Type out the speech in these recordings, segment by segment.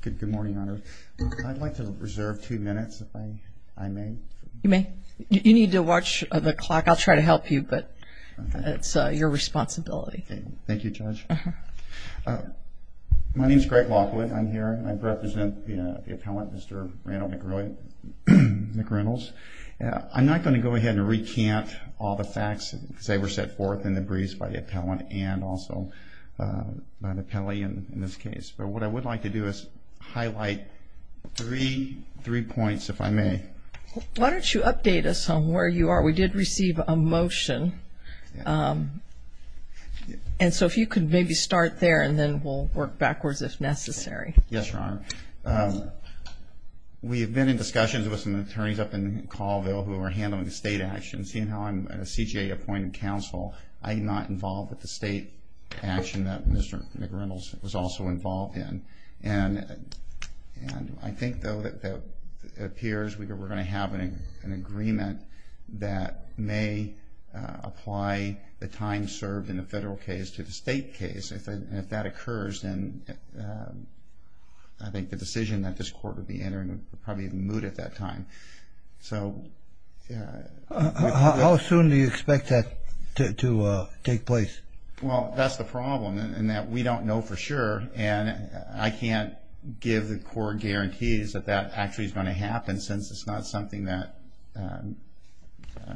Good morning, Your Honor. I'd like to reserve two minutes, if I may. You may. You need to watch the clock. I'll try to help you, but it's your responsibility. Thank you, Judge. My name is Greg Lockwood. I'm here. I represent the appellant, Mr. Randall McReynolds. I'm not going to go ahead and recant all the facts, because they were set forth in the briefs by the appellant and also by the penalty in this case. But what I would like to do is highlight three points, if I may. Why don't you update us on where you are? We did receive a motion. And so if you could maybe start there, and then we'll work backwards if necessary. Yes, Your Honor. We have been in discussions with some attorneys up in Colville who are handling the state actions. And seeing how I'm a CJA-appointed counsel, I'm not involved with the state action that Mr. McReynolds was also involved in. And I think, though, it appears we're going to have an agreement that may apply the time served in the federal case to the state case. And if that occurs, then I think the decision that this Court would be entering would probably be moot at that time. How soon do you expect that to take place? Well, that's the problem, in that we don't know for sure. And I can't give the court guarantees that that actually is going to happen, since it's not something that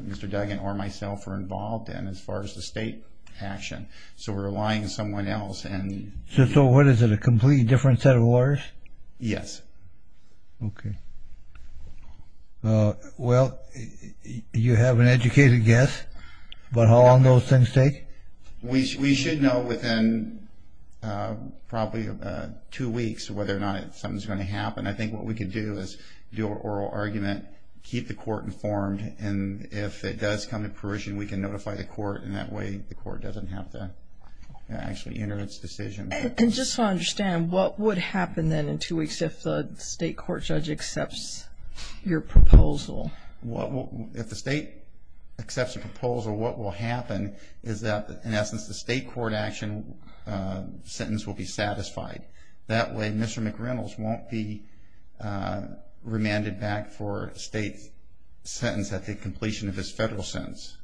Mr. Duggan or myself are involved in as far as the state action. So we're relying on someone else. So what is it, a completely different set of orders? Yes. Okay. Well, you have an educated guess, but how long those things take? We should know within probably two weeks whether or not something's going to happen. I think what we could do is do an oral argument, keep the court informed, and if it does come to fruition, we can notify the court. And that way the court doesn't have to actually enter its decision. And just to understand, what would happen then in two weeks if the state court judge accepts your proposal? If the state accepts a proposal, what will happen is that, in essence, the state court action sentence will be satisfied. That way Mr. McReynolds won't be remanded back for a state sentence at the completion of his federal sentence.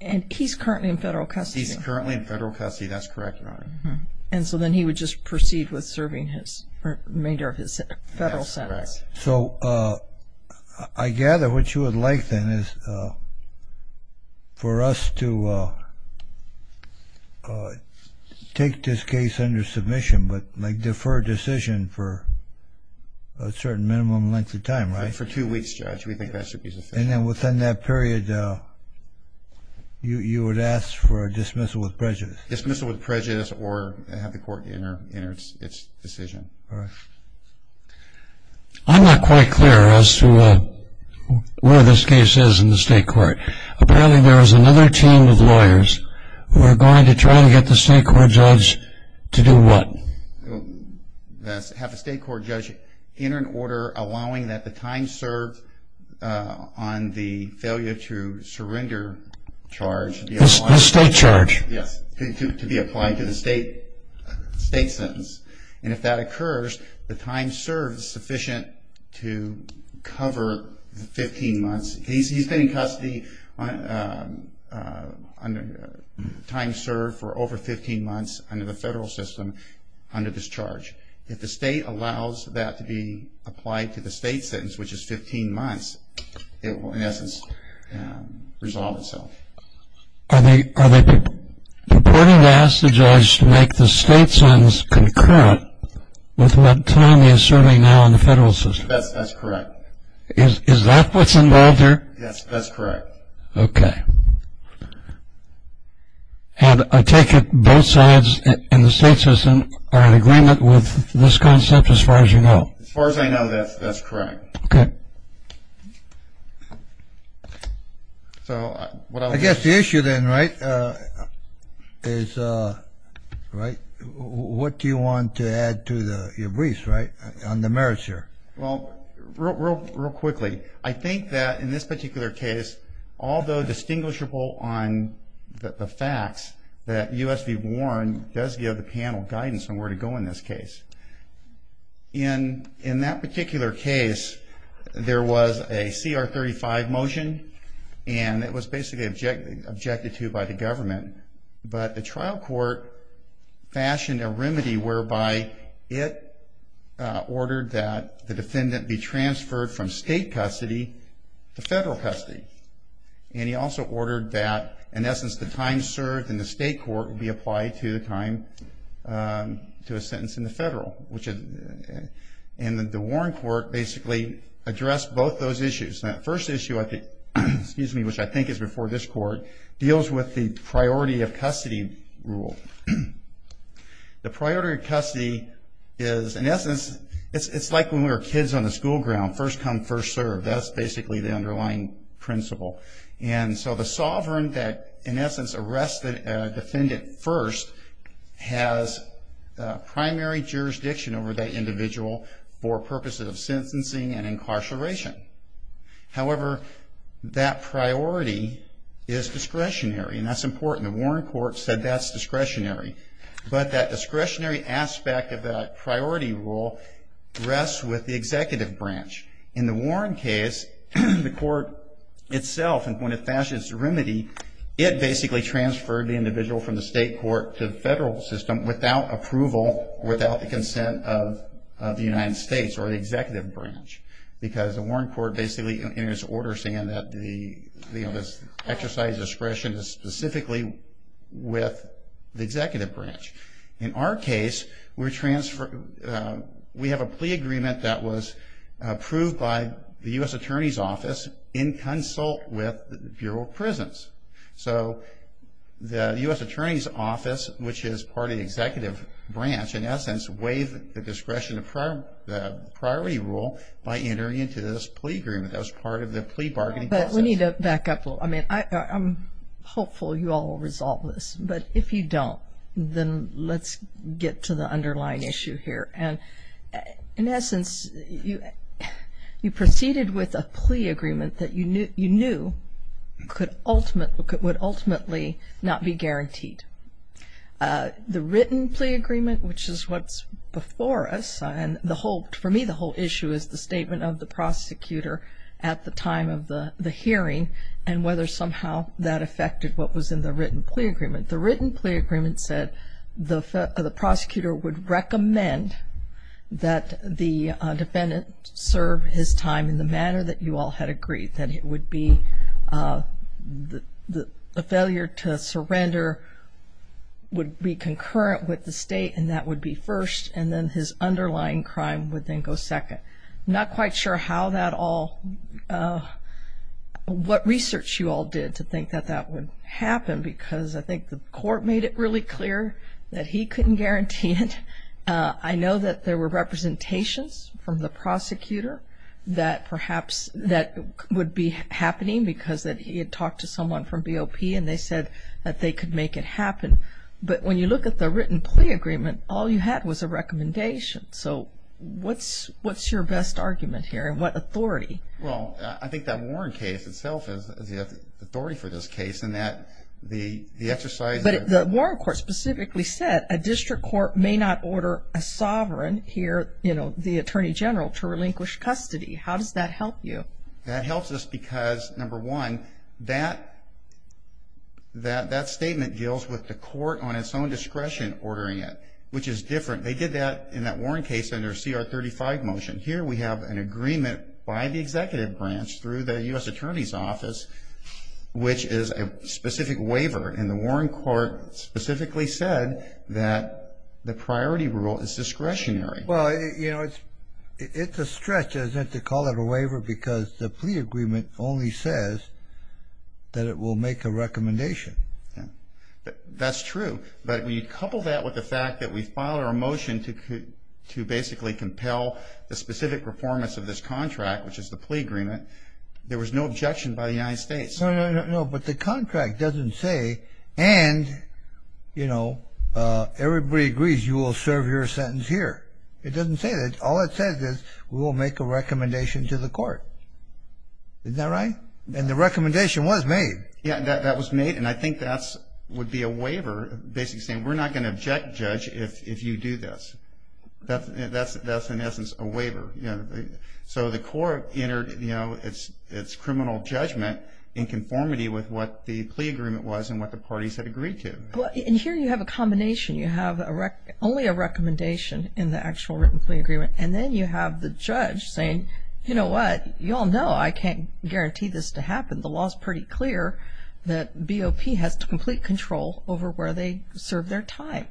And he's currently in federal custody. He's currently in federal custody. That's correct, Your Honor. And so then he would just proceed with serving his remainder of his federal sentence. That's correct. So I gather what you would like then is for us to take this case under submission, but defer decision for a certain minimum length of time, right? For two weeks, Judge. We think that should be sufficient. And then within that period, you would ask for a dismissal with prejudice. Dismissal with prejudice or have the court enter its decision. All right. I'm not quite clear as to where this case is in the state court. Apparently there is another team of lawyers who are going to try to get the state court judge to do what? Have a state court judge enter an order allowing that the time served on the failure to surrender charge. The state charge. Yes, to be applied to the state sentence. And if that occurs, the time served is sufficient to cover the 15 months. He's been in custody under time served for over 15 months under the federal system under this charge. If the state allows that to be applied to the state sentence, which is 15 months, it will, in essence, resolve itself. Are they purporting to ask the judge to make the state sentence concurrent with what time he is serving now in the federal system? That's correct. Is that what's involved here? Yes, that's correct. Okay. And I take it both sides in the state system are in agreement with this concept as far as you know. As far as I know, that's correct. Okay. I guess the issue then, right, is what do you want to add to your briefs, right, on the merits here? Well, real quickly, I think that in this particular case, although distinguishable on the facts, that U.S. v. Warren does give the panel guidance on where to go in this case. In that particular case, there was a CR 35 motion, and it was basically objected to by the government. But the trial court fashioned a remedy whereby it ordered that the defendant be transferred from state custody to federal custody. And he also ordered that, in essence, the time served in the state court would be applied to the time to a sentence in the federal. And the Warren court basically addressed both those issues. That first issue, excuse me, which I think is before this court, deals with the priority of custody rule. The priority of custody is, in essence, it's like when we were kids on the school ground, first come, first served. That's basically the underlying principle. And so the sovereign that, in essence, arrested a defendant first has primary jurisdiction over that individual for purposes of However, that priority is discretionary, and that's important. The Warren court said that's discretionary. But that discretionary aspect of that priority rule rests with the executive branch. In the Warren case, the court itself, when it fashioned its remedy, it basically transferred the individual from the state court to the federal system without approval, without the consent of the United States or the executive branch. Because the Warren court basically enters order saying that the exercise of discretion is specifically with the executive branch. In our case, we have a plea agreement that was approved by the U.S. Attorney's Office in consult with the Bureau of Prisons. So the U.S. Attorney's Office, which is part of the executive branch, in essence, waived the discretion of the priority rule by entering into this plea agreement. That was part of the plea bargaining process. But we need to back up a little. I mean, I'm hopeful you all will resolve this. But if you don't, then let's get to the underlying issue here. And in essence, you proceeded with a plea agreement that you knew could ultimately not be guaranteed. The written plea agreement, which is what's before us, and for me the whole issue is the statement of the prosecutor at the time of the hearing and whether somehow that affected what was in the written plea agreement. The written plea agreement said the prosecutor would recommend that the defendant serve his time in the manner that you all had agreed, that it would be the failure to surrender would be concurrent with the state, and that would be first, and then his underlying crime would then go second. I'm not quite sure how that all, what research you all did to think that that would happen, because I think the court made it really clear that he couldn't guarantee it. I know that there were representations from the prosecutor that perhaps that would be happening because that he had talked to someone from BOP and they said that they could make it happen. But when you look at the written plea agreement, all you had was a recommendation. So what's your best argument here and what authority? Well, I think that Warren case itself is the authority for this case in that the exercise of The Warren court specifically said a district court may not order a sovereign here, you know, the Attorney General, to relinquish custody. How does that help you? That helps us because, number one, that statement deals with the court on its own discretion ordering it, which is different. They did that in that Warren case under CR 35 motion. Here we have an agreement by the executive branch through the U.S. Attorney's Office, which is a specific waiver. And the Warren court specifically said that the priority rule is discretionary. Well, you know, it's a stretch to call it a waiver because the plea agreement only says that it will make a recommendation. That's true. But when you couple that with the fact that we filed our motion to basically compel the specific performance of this contract, which is the plea agreement, there was no objection by the United States. No, no, no. But the contract doesn't say, and, you know, everybody agrees you will serve your sentence here. It doesn't say that. All it says is we will make a recommendation to the court. Isn't that right? And the recommendation was made. Yeah, that was made. And I think that would be a waiver basically saying we're not going to object, Judge, if you do this. That's in essence a waiver. So the court entered, you know, its criminal judgment in conformity with what the plea agreement was and what the parties had agreed to. And here you have a combination. You have only a recommendation in the actual written plea agreement, and then you have the judge saying, you know what, you all know I can't guarantee this to happen. The law is pretty clear that BOP has complete control over where they serve their time.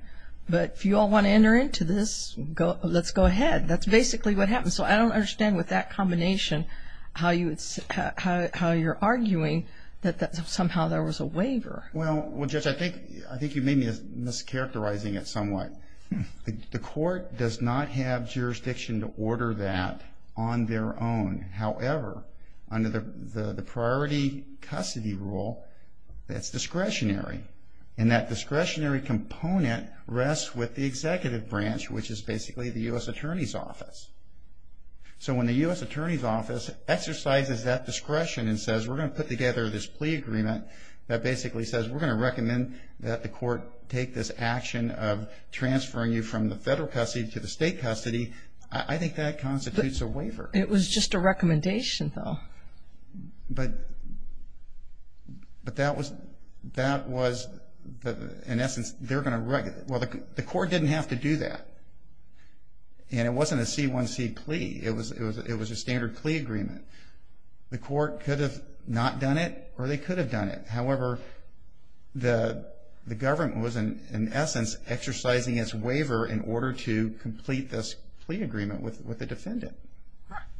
But if you all want to enter into this, let's go ahead. That's basically what happened. So I don't understand with that combination how you're arguing that somehow there was a waiver. Well, Judge, I think you may be mischaracterizing it somewhat. The court does not have jurisdiction to order that on their own. However, under the priority custody rule, that's discretionary. And that discretionary component rests with the executive branch, which is basically the U.S. Attorney's Office. So when the U.S. Attorney's Office exercises that discretion and says, we're going to put together this plea agreement that basically says we're going to recommend that the court take this action of transferring you from the federal custody to the state custody, I think that constitutes a waiver. It was just a recommendation, though. But that was, in essence, they're going to write it. Well, the court didn't have to do that. And it wasn't a C1C plea. It was a standard plea agreement. The court could have not done it or they could have done it. However, the government was, in essence, exercising its waiver in order to complete this plea agreement with the defendant.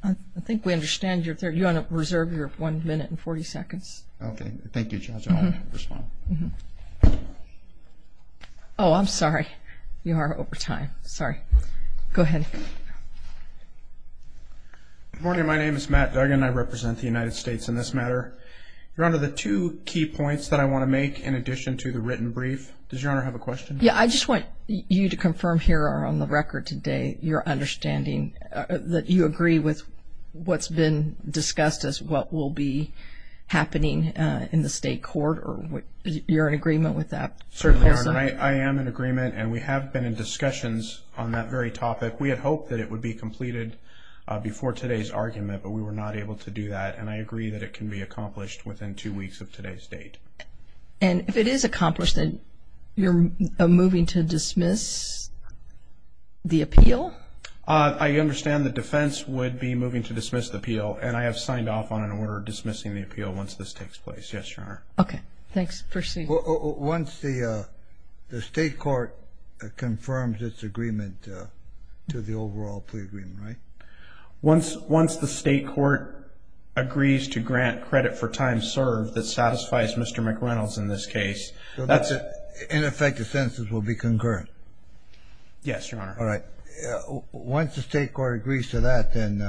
I think we understand. You want to reserve your one minute and 40 seconds. Okay. Thank you, Judge. I'll respond. Oh, I'm sorry. You are over time. Sorry. Go ahead. Good morning. My name is Matt Duggan. I represent the United States in this matter. Your Honor, the two key points that I want to make in addition to the written brief, does Your Honor have a question? Yeah. I just want you to confirm here on the record today your understanding that you agree with what's been discussed as what will be happening in the state court. Are you in agreement with that? Certainly, Your Honor. I am in agreement. And we have been in discussions on that very topic. We had hoped that it would be completed before today's argument, but we were not able to do that. And I agree that it can be accomplished within two weeks of today's date. And if it is accomplished, then you're moving to dismiss the appeal? I understand the defense would be moving to dismiss the appeal, and I have signed off on an order dismissing the appeal once this takes place. Yes, Your Honor. Okay. Thanks. Proceed. Once the state court confirms its agreement to the overall plea agreement, right? Once the state court agrees to grant credit for time served that satisfies Mr. McReynolds in this case, that's it. In effect, the sentences will be concurrent? Yes, Your Honor. All right. Once the state court agrees to that, then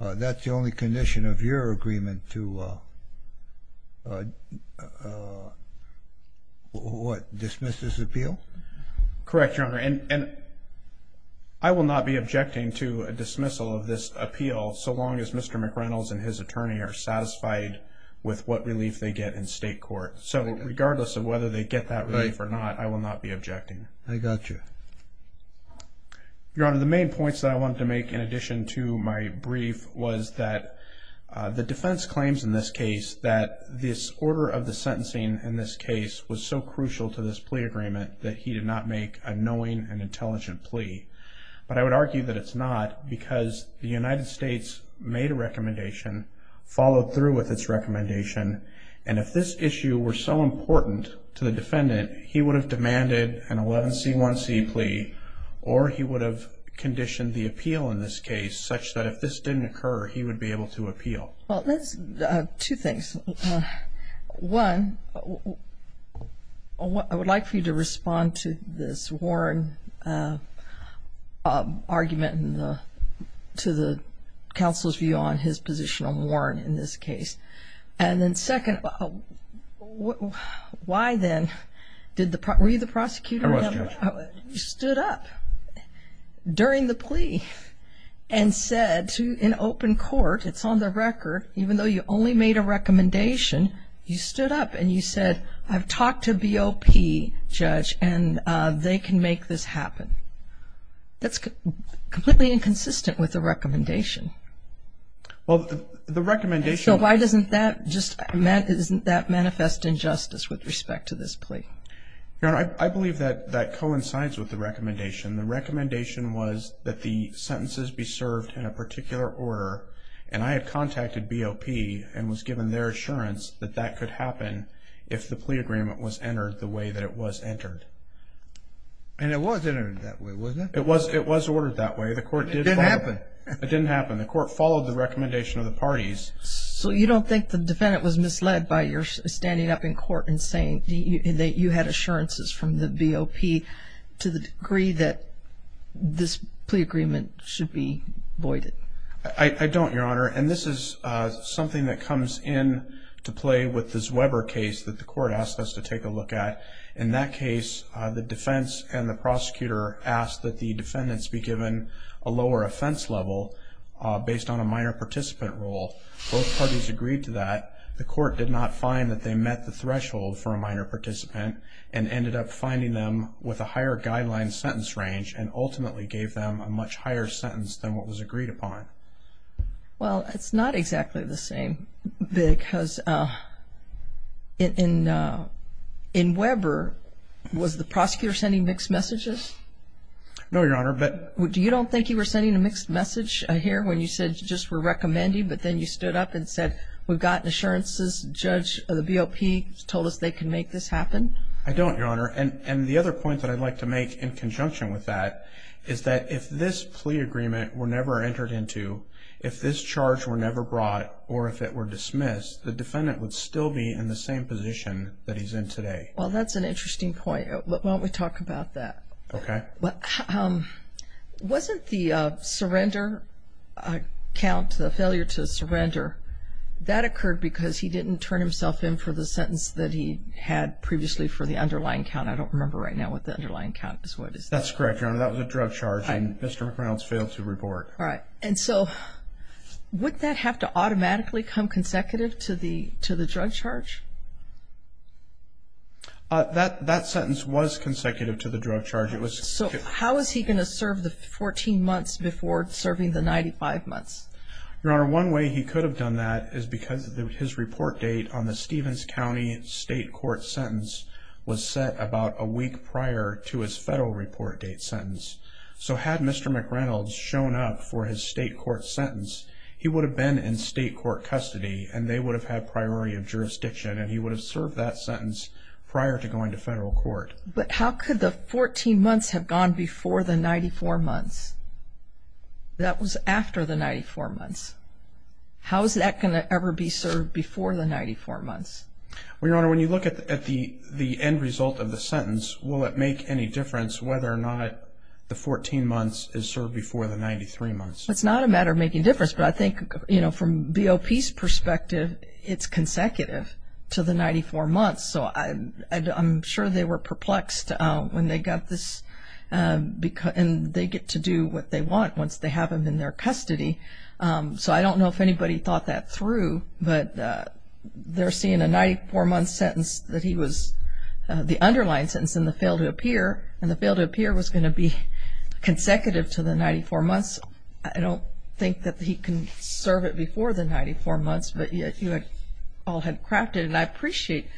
that's the only condition of your agreement to, what, dismiss this appeal? Correct, Your Honor. And I will not be objecting to a dismissal of this appeal so long as Mr. McReynolds and his attorney are satisfied with what relief they get in state court. So regardless of whether they get that relief or not, I will not be objecting. I got you. Your Honor, the main points that I wanted to make in addition to my brief was that the defense claims in this case that this order of the sentencing in this case was so crucial to this plea agreement that he did not make a knowing and intelligent plea. But I would argue that it's not because the United States made a recommendation, followed through with its recommendation, and if this issue were so important to the defendant, he would have demanded an 11C1C plea or he would have conditioned the appeal in this case such that if this didn't occur, he would be able to appeal. Well, that's two things. One, I would like for you to respond to this Warren argument and to the counsel's view on his position on Warren in this case. And then second, why then did the – were you the prosecutor? I was, Judge. You stood up during the plea and said to an open court, it's on the record, even though you only made a recommendation, you stood up and you said, I've talked to BOP, Judge, and they can make this happen. That's completely inconsistent with the recommendation. Well, the recommendation – So why doesn't that just – isn't that manifest injustice with respect to this plea? Your Honor, I believe that that coincides with the recommendation. The recommendation was that the sentences be served in a particular order, and I had contacted BOP and was given their assurance that that could happen if the plea agreement was entered the way that it was entered. And it was entered that way, wasn't it? It was ordered that way. It didn't happen. It didn't happen. The court followed the recommendation of the parties. So you don't think the defendant was misled by your standing up in court and saying that you had assurances from the BOP to the degree that this plea agreement should be voided? I don't, Your Honor. And this is something that comes in to play with the Zweber case that the court asked us to take a look at. In that case, the defense and the prosecutor asked that the defendants be given a lower offense level based on a minor participant role. Both parties agreed to that. The court did not find that they met the threshold for a minor participant and ended up finding them with a higher guideline sentence range and ultimately gave them a much higher sentence than what was agreed upon. Well, it's not exactly the same because in Weber, was the prosecutor sending mixed messages? No, Your Honor. Do you don't think he was sending a mixed message here when you said just we're recommending, but then you stood up and said we've got assurances, the judge of the BOP told us they can make this happen? I don't, Your Honor. And the other point that I'd like to make in conjunction with that is that if this plea agreement were never entered into, if this charge were never brought or if it were dismissed, the defendant would still be in the same position that he's in today. Well, that's an interesting point. Why don't we talk about that? Okay. Wasn't the surrender count, the failure to surrender, that occurred because he didn't turn himself in for the sentence that he had previously for the underlying count? I don't remember right now what the underlying count is. That's correct, Your Honor. That was a drug charge and Mr. McReynolds failed to report. All right. And so would that have to automatically come consecutive to the drug charge? That sentence was consecutive to the drug charge. So how is he going to serve the 14 months before serving the 95 months? Your Honor, one way he could have done that is because his report date on the Stevens County state court sentence was set about a week prior to his federal report date sentence. So had Mr. McReynolds shown up for his state court sentence, he would have been in state court custody and they would have had priority of jurisdiction and he would have served that sentence prior to going to federal court. But how could the 14 months have gone before the 94 months? That was after the 94 months. How is that going to ever be served before the 94 months? Well, Your Honor, when you look at the end result of the sentence, will it make any difference whether or not the 14 months is served before the 93 months? It's not a matter of making a difference, but I think from BOP's perspective it's consecutive to the 94 months. So I'm sure they were perplexed when they got this and they get to do what they want once they have him in their custody. So I don't know if anybody thought that through, but they're seeing a 94-month sentence that he was, the underlying sentence in the fail to appear, and the fail to appear was going to be consecutive to the 94 months. I don't think that he can serve it before the 94 months, but you all had crafted it, and I appreciate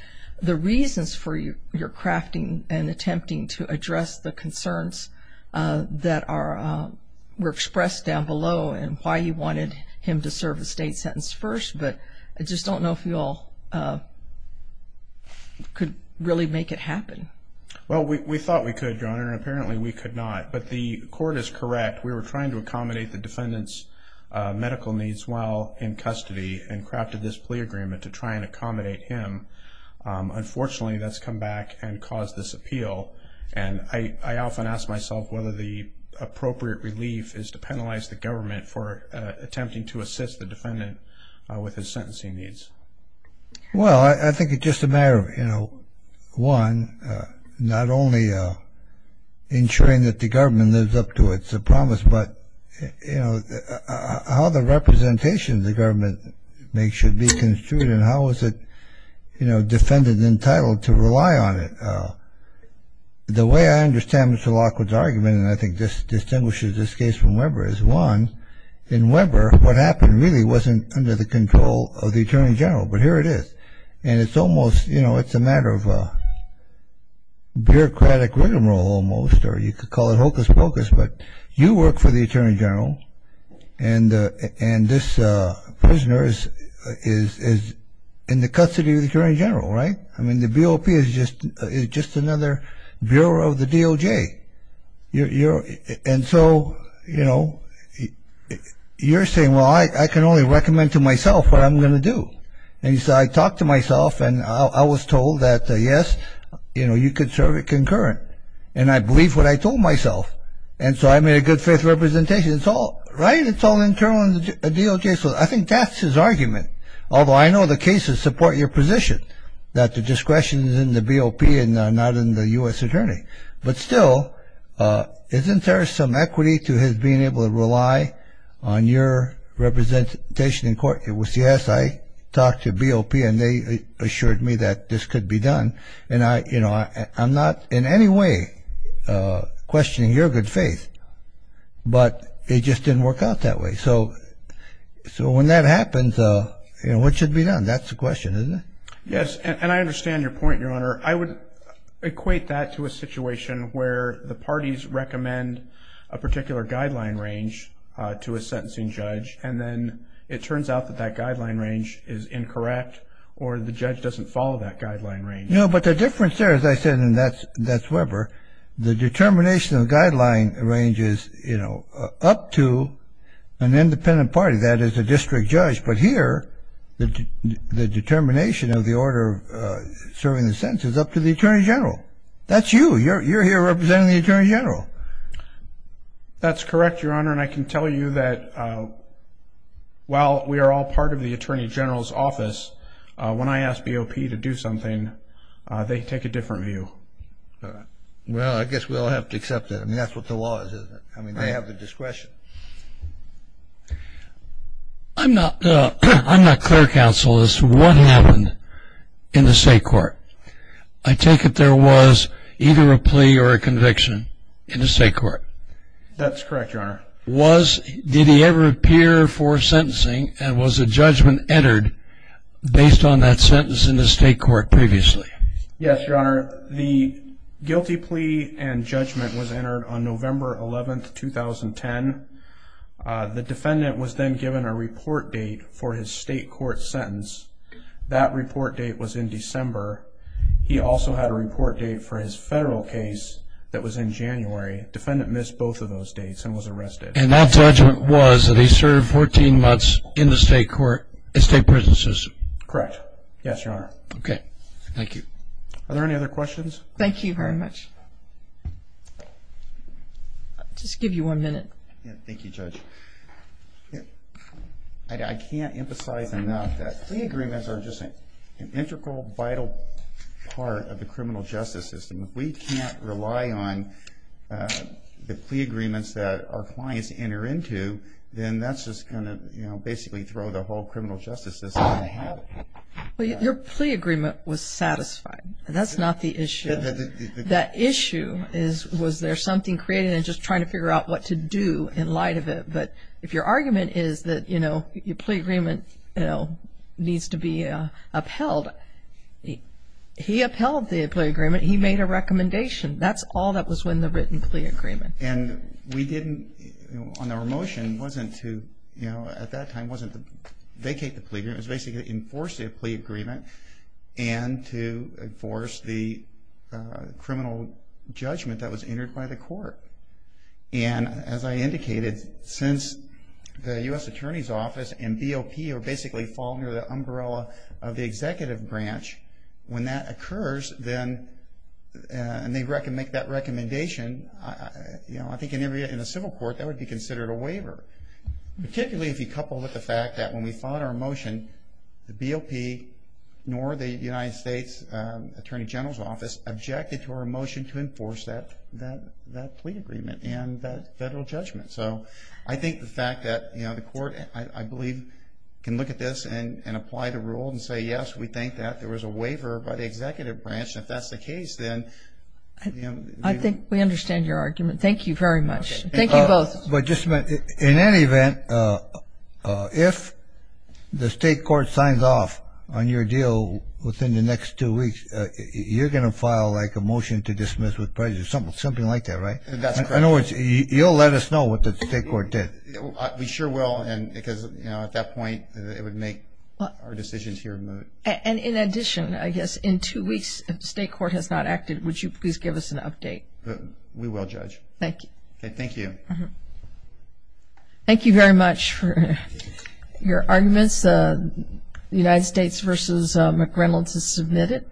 the reasons for your crafting and attempting to address the concerns that were expressed down below and why you wanted him to serve a state sentence first, but I just don't know if you all could really make it happen. Well, we thought we could, Your Honor, and apparently we could not, but the court is correct. We were trying to accommodate the defendant's medical needs while in custody and crafted this plea agreement to try and accommodate him. Unfortunately, that's come back and caused this appeal, and I often ask myself whether the appropriate relief is to penalize the government for attempting to assist the defendant with his sentencing needs. Well, I think it's just a matter of, you know, one, not only ensuring that the government lives up to its promise, but, you know, how the representation the government makes should be construed and how is it, you know, defendant entitled to rely on it. The way I understand Mr. Lockwood's argument, and I think this distinguishes this case from Weber's, one, in Weber what happened really wasn't under the control of the Attorney General, but here it is, and it's almost, you know, it's a matter of bureaucratic rigmarole almost, or you could call it hocus-pocus, but you work for the Attorney General, and this prisoner is in the custody of the Attorney General, right? I mean, the BOP is just another bureau of the DOJ. And so, you know, you're saying, well, I can only recommend to myself what I'm going to do. And so I talked to myself, and I was told that, yes, you know, you could serve it concurrent, and I believed what I told myself, and so I made a good faith representation. It's all right, it's all internal in the DOJ, so I think that's his argument, although I know the cases support your position that the discretion is in the BOP and not in the U.S. Attorney. But still, isn't there some equity to his being able to rely on your representation in court? Yes, I talked to BOP, and they assured me that this could be done, and I'm not in any way questioning your good faith, but it just didn't work out that way. So when that happens, what should be done? That's the question, isn't it? Yes, and I understand your point, Your Honor. I would equate that to a situation where the parties recommend a particular guideline range to a sentencing judge, and then it turns out that that guideline range is incorrect or the judge doesn't follow that guideline range. No, but the difference there, as I said, and that's Weber, the determination of the guideline range is, you know, up to an independent party, that is, a district judge. But here, the determination of the order serving the sentence is up to the Attorney General. That's you. You're here representing the Attorney General. That's correct, Your Honor, and I can tell you that while we are all part of the Attorney General's office, when I ask BOP to do something, they take a different view. Well, I guess we all have to accept that. I mean, that's what the law is, isn't it? I mean, they have the discretion. I'm not clear, counsel, as to what happened in the state court. I take it there was either a plea or a conviction in the state court. That's correct, Your Honor. Did he ever appear for sentencing, and was a judgment entered based on that sentence in the state court previously? Yes, Your Honor. The guilty plea and judgment was entered on November 11, 2010. The defendant was then given a report date for his state court sentence. That report date was in December. He also had a report date for his federal case that was in January. The defendant missed both of those dates and was arrested. And that judgment was that he served 14 months in the state prison system? Correct. Yes, Your Honor. Okay. Thank you. Are there any other questions? Thank you very much. I'll just give you one minute. Thank you, Judge. I can't emphasize enough that plea agreements are just an integral, vital part of the criminal justice system. If we can't rely on the plea agreements that our clients enter into, then that's just going to basically throw the whole criminal justice system out of habit. Well, your plea agreement was satisfied. That's not the issue. The issue is was there something created and just trying to figure out what to do in light of it. But if your argument is that, you know, your plea agreement needs to be upheld, he upheld the plea agreement. He made a recommendation. That's all that was in the written plea agreement. And we didn't, on our motion, wasn't to, you know, at that time, wasn't to vacate the plea agreement. It was basically to enforce the plea agreement and to enforce the criminal judgment that was entered by the court. And as I indicated, since the U.S. Attorney's Office and BOP are basically falling under the umbrella of the executive branch, when that occurs, then they make that recommendation. You know, I think in a civil court, that would be considered a waiver, particularly if you couple it with the fact that when we filed our motion, the BOP nor the United States Attorney General's Office objected to our motion to enforce that plea agreement and that federal judgment. So I think the fact that, you know, the court, I believe, can look at this and apply the rule and say, yes, we think that there was a waiver by the executive branch, and if that's the case, then, you know. I think we understand your argument. Thank you very much. Thank you both. But just in any event, if the state court signs off on your deal within the next two weeks, you're going to file, like, a motion to dismiss with prejudice, something like that, right? In other words, you'll let us know what the state court did. We sure will, because, you know, at that point, it would make our decisions here moot. And in addition, I guess, in two weeks, if the state court has not acted, would you please give us an update? We will, Judge. Thank you. Okay, thank you. Thank you very much for your arguments. The United States v. McReynolds is submitted.